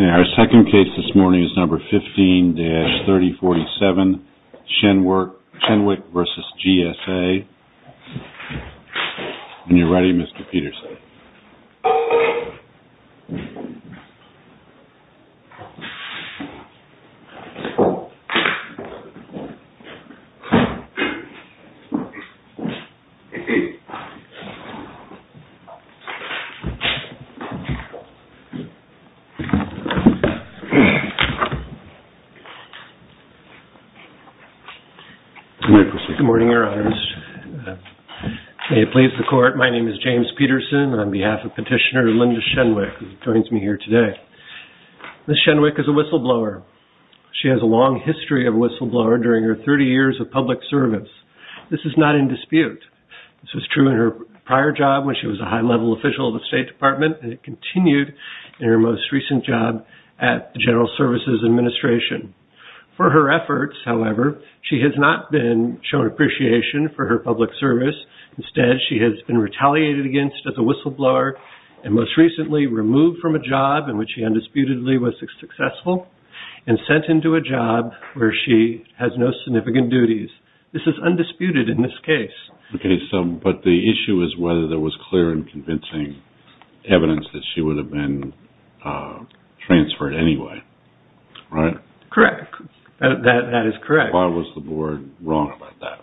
Our second case this morning is number 15-3047, Shenwick v. GSA, and you're ready Mr. Peterson. Good morning, your honors. May it please the court, my name is James Peterson, and I'm on behalf of petitioner Linda Shenwick, who joins me here today. Ms. Shenwick is a whistleblower. She has a long history of whistleblower during her 30 years of public service. This is not in dispute. This was true in her prior job when she was a high-level official of the State Department, and it continued in her most recent job at the General Services Administration. For her efforts, however, she has not been shown appreciation for her public service. Instead, she has been retaliated against as a whistleblower, and most recently removed from a job in which she undisputedly was successful, and sent into a job where she has no significant duties. This is undisputed in this case. But the issue is whether there was clear and convincing evidence that she would have been transferred anyway, right? Correct. That is correct. Why was the board wrong about that?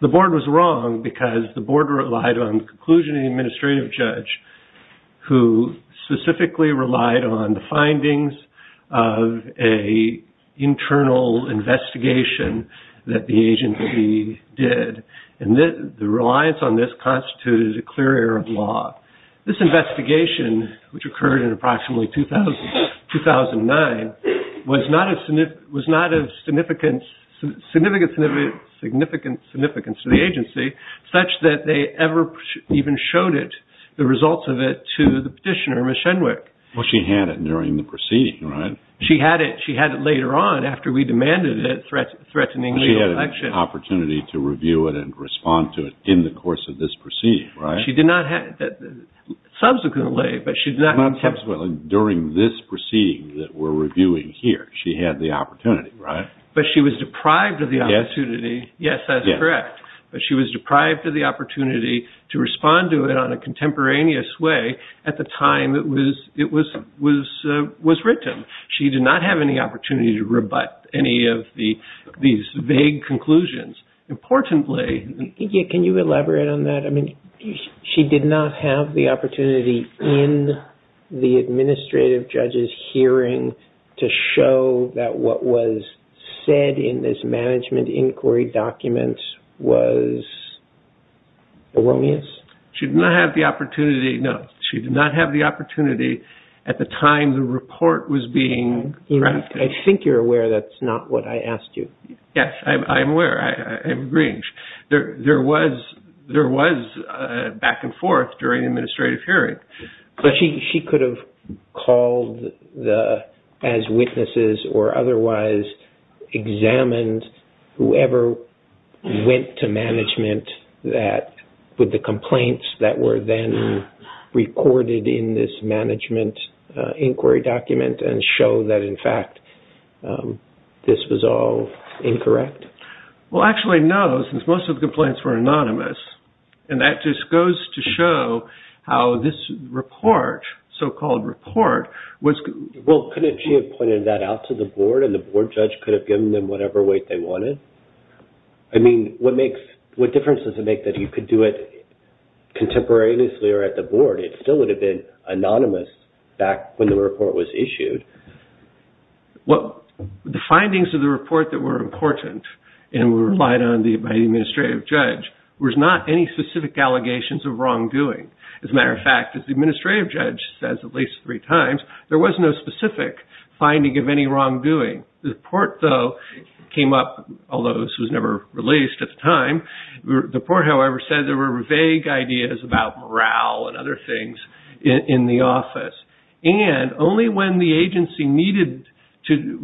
The board was wrong because the board relied on the conclusion of the administrative judge, who specifically relied on the findings of an internal investigation that the agent did. The reliance on this constituted a clear error of law. This investigation, which occurred in approximately 2009, was not of significant significance to the agency, such that they ever even showed the results of it to the petitioner, Ms. Shenwick. Well, she had it during the proceeding, right? She had it later on after we demanded it, threatening re-election. She did not have an opportunity to review it and respond to it in the course of this proceeding, right? Subsequently. Not subsequently. During this proceeding that we're reviewing here, she had the opportunity, right? But she was deprived of the opportunity. Yes, that's correct. But she was deprived of the opportunity to respond to it on a contemporaneous way at the time it was written. She did not have any opportunity to rebut any of these vague conclusions. Importantly... Can you elaborate on that? I mean, she did not have the opportunity in the administrative judge's hearing to show that what was said in this management inquiry document was erroneous? She did not have the opportunity, no. She did not have the opportunity at the time the report was being drafted. I think you're aware that's not what I asked you. Yes, I'm aware. I'm agreeing. There was back and forth during the administrative hearing. But she could have called as witnesses or otherwise examined whoever went to management with the complaints that were then recorded in this management inquiry document and show that, in fact, this was all incorrect? Well, actually, no, since most of the complaints were anonymous. And that just goes to show how this report, so-called report, was... Well, couldn't she have pointed that out to the board and the board judge could have given them whatever weight they wanted? I mean, what difference does it make that you could do it contemporaneously or at the board? It still would have been anonymous back when the report was issued. The findings of the report that were important and were relied on by the administrative judge was not any specific allegations of wrongdoing. As a matter of fact, as the administrative judge says at least three times, there was no specific finding of any wrongdoing. The report, though, came up, although this was never released at the time. The report, however, said there were vague ideas about morale and other things in the office. And only when the agency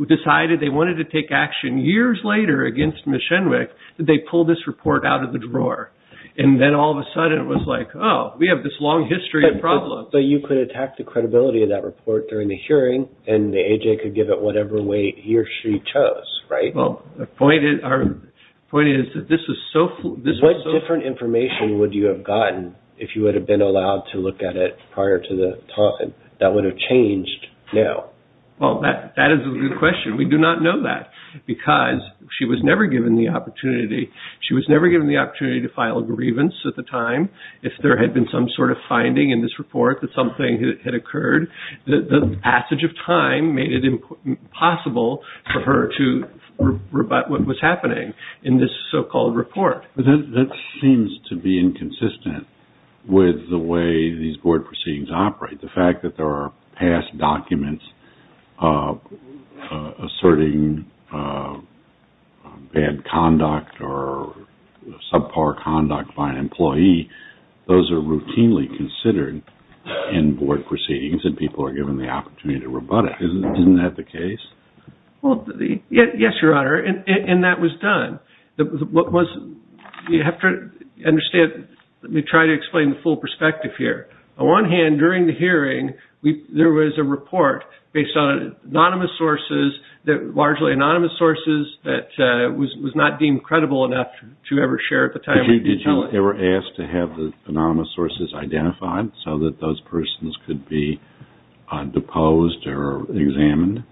decided they wanted to take action years later against Ms. Schenwick did they pull this report out of the drawer. And then all of a sudden it was like, oh, we have this long history of problems. But you could attack the credibility of that report during the hearing and the A.J. could give it whatever weight he or she chose, right? Well, the point is that this was so... What different information would you have gotten if you would have been allowed to look at it prior to the time that would have changed now? Well, that is a good question. We do not know that because she was never given the opportunity. She was never given the opportunity to file a grievance at the time. If there had been some sort of finding in this report that something had occurred, the passage of time made it impossible for her to rebut what was happening in this so-called report. But that seems to be inconsistent with the way these board proceedings operate. The fact that there are past documents asserting bad conduct or subpar conduct by an employee, those are routinely considered in board proceedings and people are given the opportunity to rebut it. Isn't that the case? Yes, Your Honor, and that was done. You have to understand, let me try to explain the full perspective here. On one hand, during the hearing, there was a report based on anonymous sources, largely anonymous sources, that was not deemed credible enough to ever share at the time. Did you ever ask to have the anonymous sources identified so that those persons could be deposed or examined?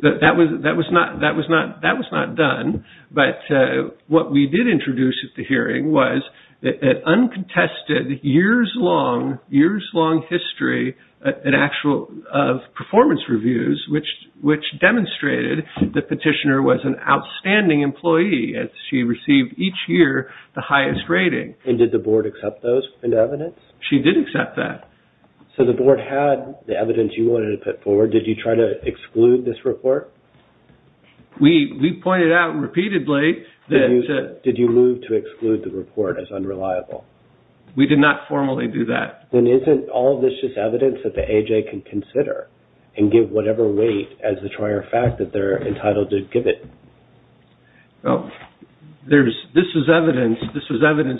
That was not done, but what we did introduce at the hearing was an uncontested, years-long history of performance reviews, which demonstrated the petitioner was an outstanding employee. She received, each year, the highest rating. Did the board accept those evidence? She did accept that. So the board had the evidence you wanted to put forward. Did you try to exclude this report? We pointed out repeatedly that... Did you move to exclude the report as unreliable? We did not formally do that. Then isn't all of this just evidence that the AJ can consider and give whatever weight as the trier fact that they're entitled to give it? This is evidence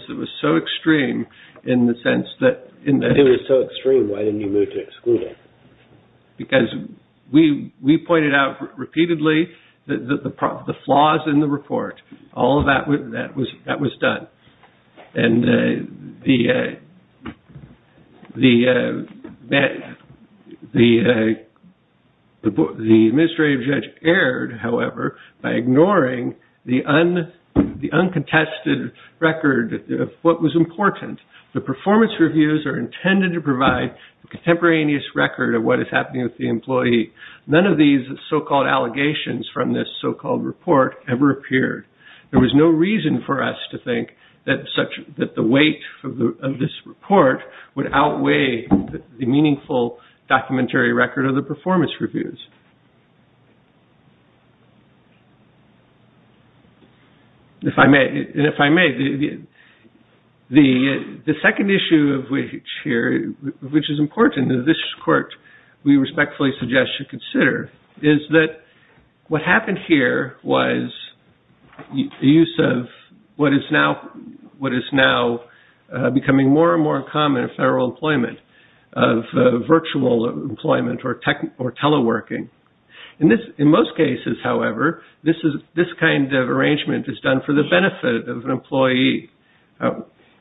that was so extreme in the sense that... If it was so extreme, why didn't you move to exclude it? Because we pointed out repeatedly the flaws in the report. All of that was done. The administrative judge erred, however, by ignoring the uncontested record of what was important. The performance reviews are intended to provide a contemporaneous record of what is happening with the employee. None of these so-called allegations from this so-called report ever appeared. There was no reason for us to think that the weight of this report would outweigh the meaningful documentary record of the performance reviews. If I may, the second issue of which is important in this court we respectfully suggest you consider is that what happened here was the use of what is now becoming more and more common in federal employment of virtual employment or teleworking. In most cases, however, this kind of arrangement is done for the benefit of an employee.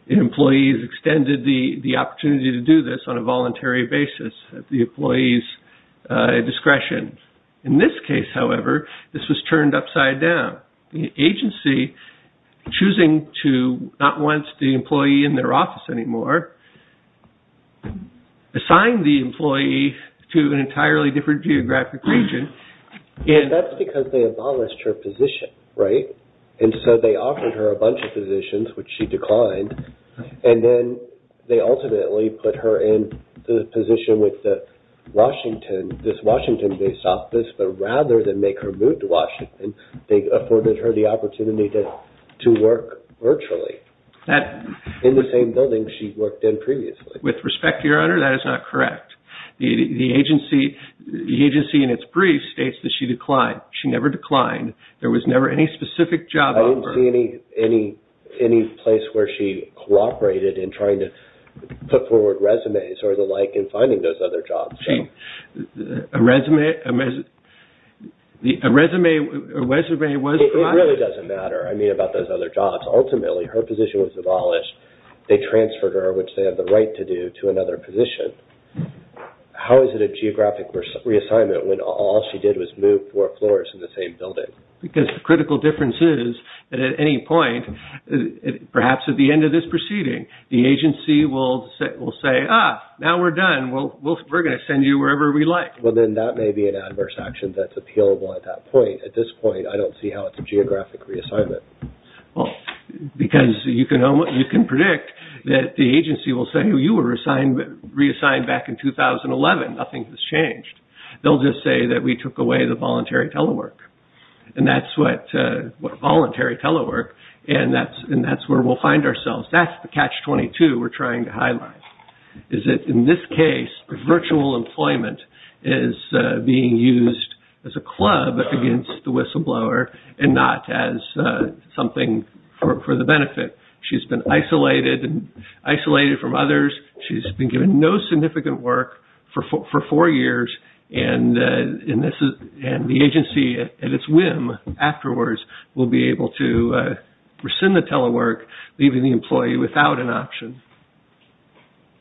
Employees extended the opportunity to do this on a voluntary basis at the employee's discretion. In this case, however, this was turned upside down. The agency, choosing to not want the employee in their office anymore, assigned the employee to an entirely different geographic region. That's because they abolished her position. And so they offered her a bunch of positions, which she declined. And then they ultimately put her in the position with the Washington, this Washington-based office. But rather than make her move to Washington, they afforded her the opportunity to work virtually in the same building she worked in previously. With respect, Your Honor, that is not correct. The agency in its brief states that she declined. She never declined. There was never any specific job offer. I don't see any place where she cooperated in trying to put forward resumes or the like in finding those other jobs. A resume was provided. It really doesn't matter, I mean, about those other jobs. Ultimately, her position was abolished. They transferred her, which they have the right to do, to another position. How is it a geographic reassignment when all she did was move four floors in the same building? Because the critical difference is that at any point, perhaps at the end of this proceeding, the agency will say, ah, now we're done, we're going to send you wherever we like. Well, then that may be an adverse action that's appealable at that point. At this point, I don't see how it's a geographic reassignment. Because you can predict that the agency will say, well, you were reassigned back in 2011. Nothing has changed. They'll just say that we took away the voluntary telework, and that's where we'll find ourselves. That's the catch-22 we're trying to highlight, is that in this case, virtual employment is being used as a club against the whistleblower and not as something for the benefit. She's been isolated from others. She's been given no significant work for four years, and the agency, at its whim, afterwards will be able to rescind the telework, leaving the employee without an option.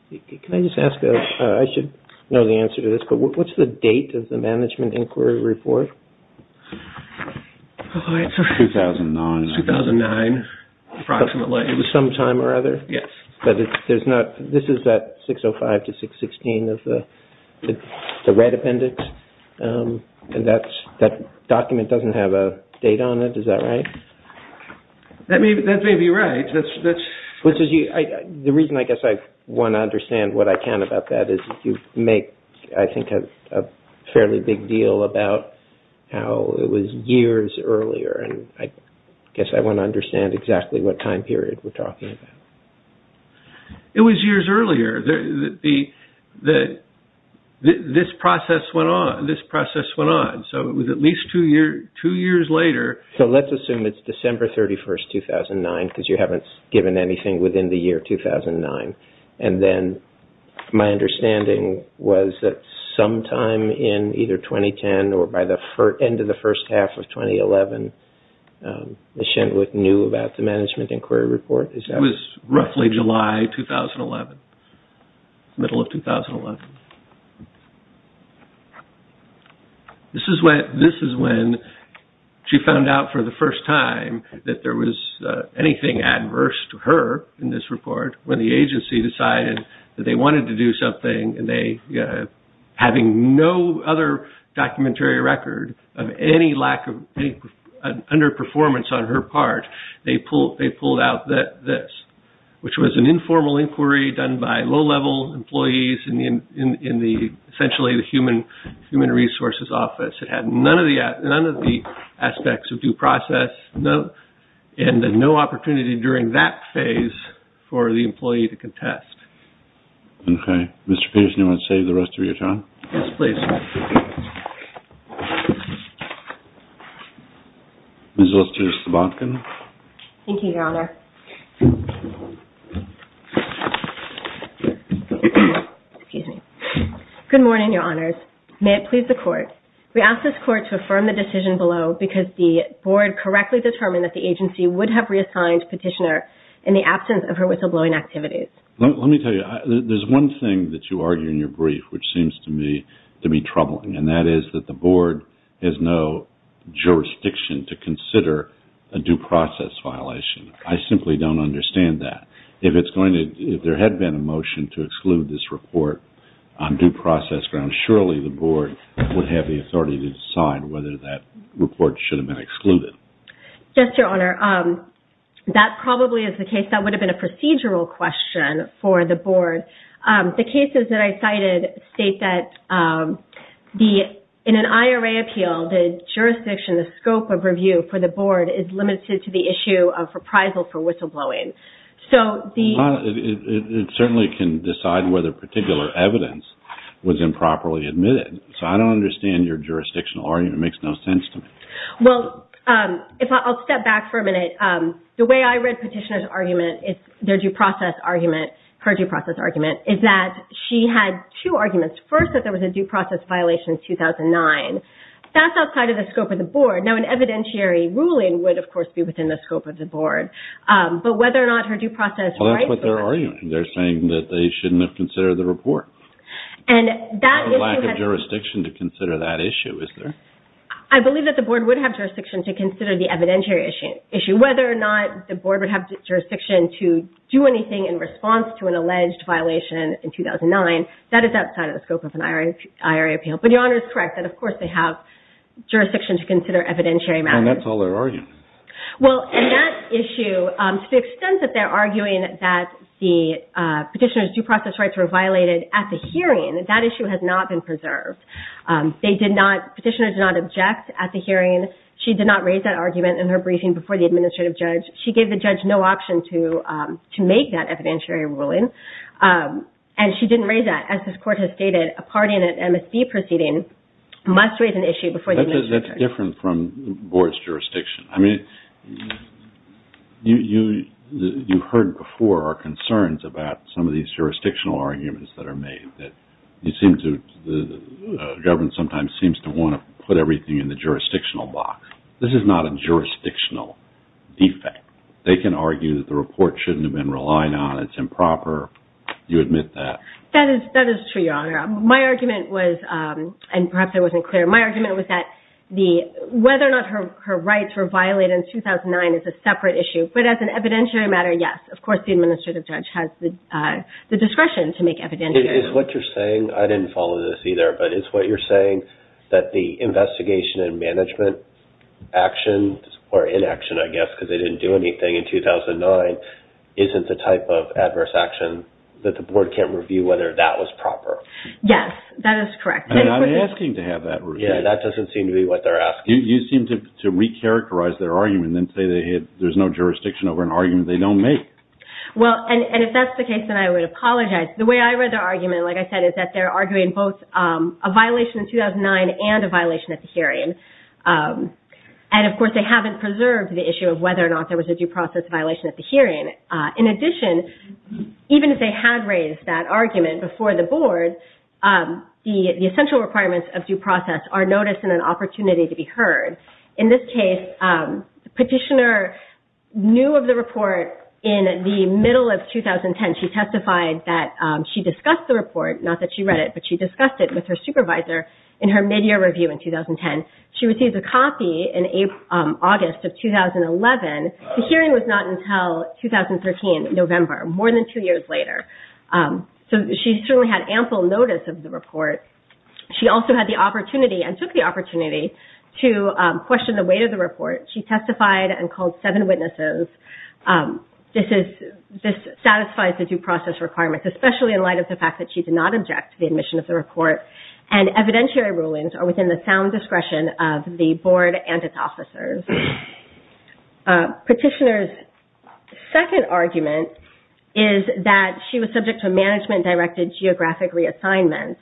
Can I just ask, I should know the answer to this, but what's the date of the management inquiry report? 2009. 2009, approximately. Some time or other? Yes. But this is that 605 to 616 of the red appendix, and that document doesn't have a date on it, is that right? That may be right. The reason I guess I want to understand what I can about that is you make, I think, a fairly big deal about how it was years earlier, and I guess I want to understand exactly what time period we're talking about. It was years earlier. This process went on, so it was at least two years later. Let's assume it's December 31st, 2009, because you haven't given anything within the year 2009, and then my understanding was that sometime in either 2010 or by the end of the first half of 2011, Ms. Shentwick knew about the management inquiry report. It was roughly July 2011, middle of 2011. This is when she found out for the first time that there was anything adverse to her in this report, when the agency decided that they wanted to do something, and having no other documentary record of any underperformance on her part, they pulled out this, which was an informal inquiry done by low-level employees in essentially the Human Resources Office. It had none of the aspects of due process, and no opportunity during that phase for the employee to contest. Okay. Mr. Peterson, you want to save the rest of your time? Yes, please. Ms. Lister-Sobotkin. Thank you, Your Honor. Good morning, Your Honors. May it please the Court. We ask this Court to affirm the decision below, because the Board correctly determined that the agency would have reassigned Petitioner in the absence of her whistleblowing activities. Let me tell you, there's one thing that you argue in your brief which seems to me to be troubling, and that is that the Board has no jurisdiction to consider a due process violation. I simply don't understand that. If there had been a motion to exclude this report on due process grounds, surely the Board would have the authority to decide whether that report should have been excluded. Yes, Your Honor. That probably is the case. That would have been a procedural question for the Board. The cases that I cited state that in an IRA appeal, the jurisdiction, the scope of review for the Board is limited to the issue of reprisal for whistleblowing. Your Honor, it certainly can decide whether particular evidence was improperly admitted. So, I don't understand your jurisdictional argument. It makes no sense to me. Well, I'll step back for a minute. The way I read Petitioner's argument, their due process argument, her due process argument, is that she had two arguments. First, that there was a due process violation in 2009. That's outside of the scope of the Board. Now, an evidentiary ruling would, of course, be within the scope of the Board. But whether or not her due process rights... Well, that's what they're arguing. They're saying that they shouldn't have considered the report. And that... There's a lack of jurisdiction to consider that issue, is there? I believe that the Board would have jurisdiction to consider the evidentiary issue. Whether or not the Board would have jurisdiction to do anything in response to an alleged violation in 2009, that is outside of the scope of an IRA appeal. But Your Honor is correct that, of course, they have jurisdiction to consider evidentiary matters. Well, that's all they're arguing. Well, and that issue... To the extent that they're arguing that the Petitioner's due process rights were violated at the hearing, that issue has not been preserved. They did not... Petitioner did not object at the hearing. She did not raise that argument in her briefing before the Administrative Judge. She gave the Judge no option to make that evidentiary ruling. And she didn't raise that. As this Court has stated, a party in an MSD proceeding must raise an issue before the Administrative Judge. That's different from the Board's jurisdiction. I mean, you heard before our concerns about some of these jurisdictional arguments that are made, that the government sometimes seems to want to put everything in the jurisdictional box. This is not a jurisdictional defect. They can argue that the report shouldn't have been relied on. It's improper. You admit that. That is true, Your Honor. My argument was, and perhaps I wasn't clear, my argument was that whether or not her rights were violated in 2009 is a separate issue. But as an evidentiary matter, yes. Of course, the Administrative Judge has the discretion to make evidentiary rulings. Is what you're saying... I didn't follow this either, but is what you're saying that the investigation and management action, or inaction, I guess, because they didn't do anything in 2009, isn't the type of adverse action that the Board can't review whether that was proper? Yes, that is correct. They're not asking to have that reviewed. Yes, that doesn't seem to be what they're asking. You seem to recharacterize their argument and say there's no jurisdiction over an argument they don't make. Well, and if that's the case, then I would apologize. The way I read their argument, like I said, is that they're arguing both a violation in 2009 and a violation at the hearing. And, of course, they haven't preserved the issue of whether or not there was a due process violation at the hearing. In addition, even if they had raised that argument before the Board, the essential requirements of due process are noticed and an opportunity to be heard. In this case, the petitioner knew of the report in the middle of 2010. She testified that she discussed the report, not that she read it, but she discussed it with her supervisor in her midyear review in 2010. She received a copy in August of 2011. The hearing was not until 2013, November, more than two years later. So she certainly had ample notice of the report. She also had the opportunity and took the opportunity to question the weight of the report. She testified and called seven witnesses. This satisfies the due process requirements, especially in light of the fact that she did not object to the admission of the report. And evidentiary rulings are within the sound discretion of the Board and its officers. Petitioner's second argument is that she was subject to a management-directed geographic reassignment.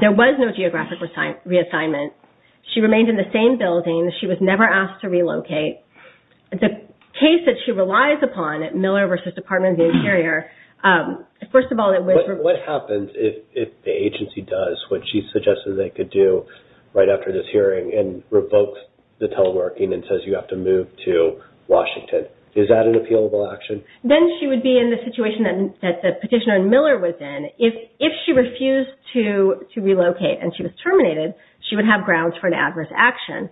There was no geographic reassignment. She remained in the same building. She was never asked to relocate. The case that she relies upon at Miller v. Department of the Interior, first of all, it was... What happens if the agency does what she suggested they could do right after this hearing and revokes the teleworking and says you have to move to Washington? Is that an appealable action? Then she would be in the situation that the petitioner in Miller was in. If she refused to relocate and she was terminated, she would have grounds for an adverse action.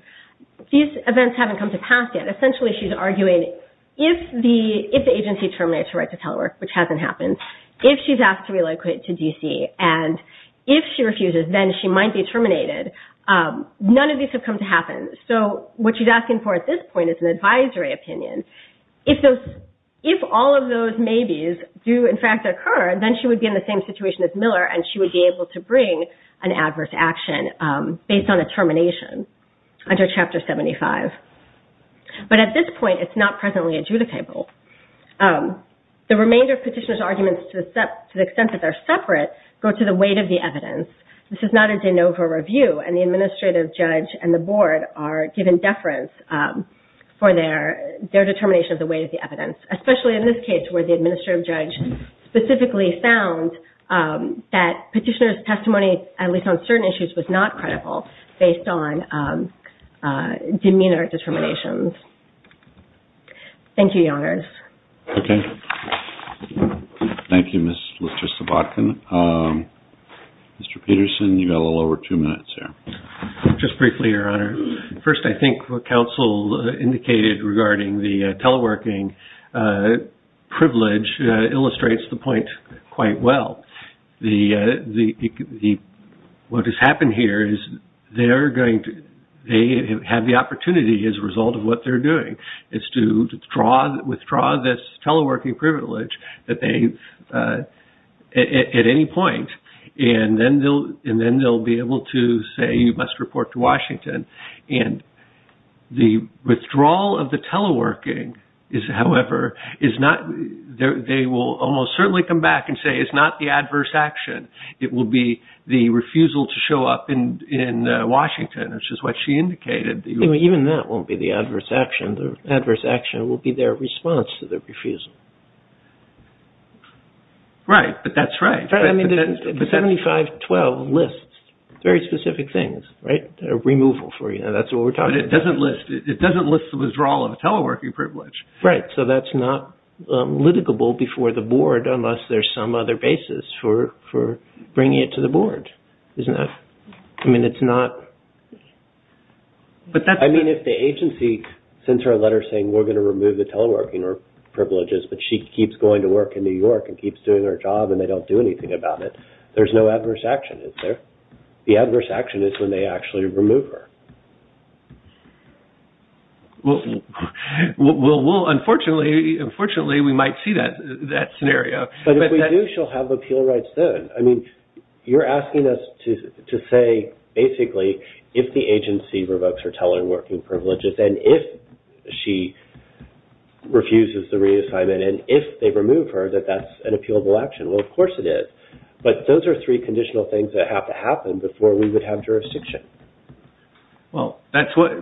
These events haven't come to pass yet. Essentially, she's arguing if the agency terminates her right to telework, which hasn't happened, if she's asked to relocate to D.C. and if she refuses, then she might be terminated. None of these have come to happen. So what she's asking for at this point is an advisory opinion. If all of those maybes do, in fact, occur, then she would be in the same situation as Miller and she would be able to bring an adverse action based on a termination under Chapter 75. But at this point, it's not presently adjudicable. The remainder of petitioner's arguments, to the extent that they're separate, go to the weight of the evidence. This is not a de novo review, and the administrative judge and the Board are given deference for their determination of the weight of the evidence, especially in this case where the administrative judge specifically found that petitioner's testimony, at least on certain issues, was not credible based on demeanor determinations. Thank you, Your Honors. Okay. Thank you, Mr. Sobotkin. Mr. Peterson, you've got a little over two minutes here. Just briefly, Your Honor. First, I think what counsel indicated regarding the teleworking privilege illustrates the point quite well. What has happened here is they have the opportunity, as a result of what they're doing, is to withdraw this teleworking privilege at any point, and then they'll be able to say you must report to Washington. And the withdrawal of the teleworking, however, is not – they will almost certainly come back and say it's not the adverse action. It will be the refusal to show up in Washington, which is what she indicated. Even that won't be the adverse action. The adverse action will be their response to the refusal. Right, but that's right. 7512 lists very specific things, right? A removal for you. That's what we're talking about. But it doesn't list the withdrawal of a teleworking privilege. Right. So that's not litigable before the board unless there's some other basis for bringing it to the board, isn't it? I mean, it's not – I mean, if the agency sends her a letter saying we're going to remove the teleworking privileges, but she keeps going to work in New York and keeps doing her job and they don't do anything about it, there's no adverse action, is there? The adverse action is when they actually remove her. Well, unfortunately, we might see that scenario. But if we do, she'll have appeal rights soon. I mean, you're asking us to say basically if the agency revokes her teleworking privileges and if she refuses the reassignment and if they remove her that that's an appealable action. Well, of course it is. But those are three conditional things that have to happen before we would have jurisdiction. Well, that's what –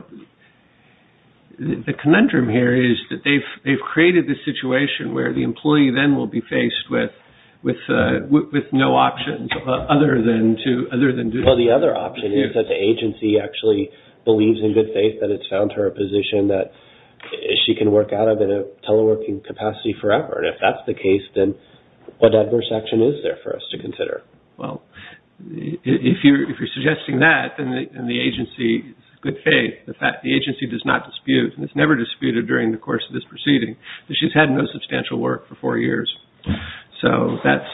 the conundrum here is that they've created the situation where the employee then will be faced with no options other than to – Well, the other option is that the agency actually believes in good faith that it's found her a position that she can work out of in a teleworking capacity forever. And if that's the case, then what adverse action is there for us to consider? Well, if you're suggesting that, then the agency is in good faith. The agency does not dispute, and it's never disputed during the course of this proceeding, that she's had no substantial work for four years. So that's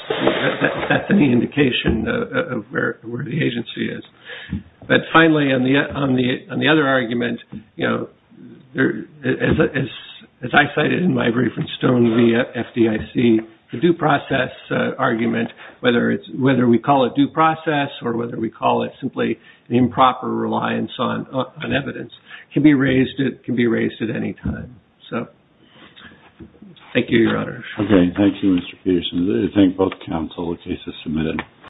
an indication of where the agency is. But finally, on the other argument, as I cited in my brief in stone via FDIC, the due process argument, whether we call it due process or whether we call it simply improper reliance on evidence, can be raised at any time. So thank you, Your Honor. Okay. Thank you, Mr. Peterson. I thank both counsel. The case is submitted.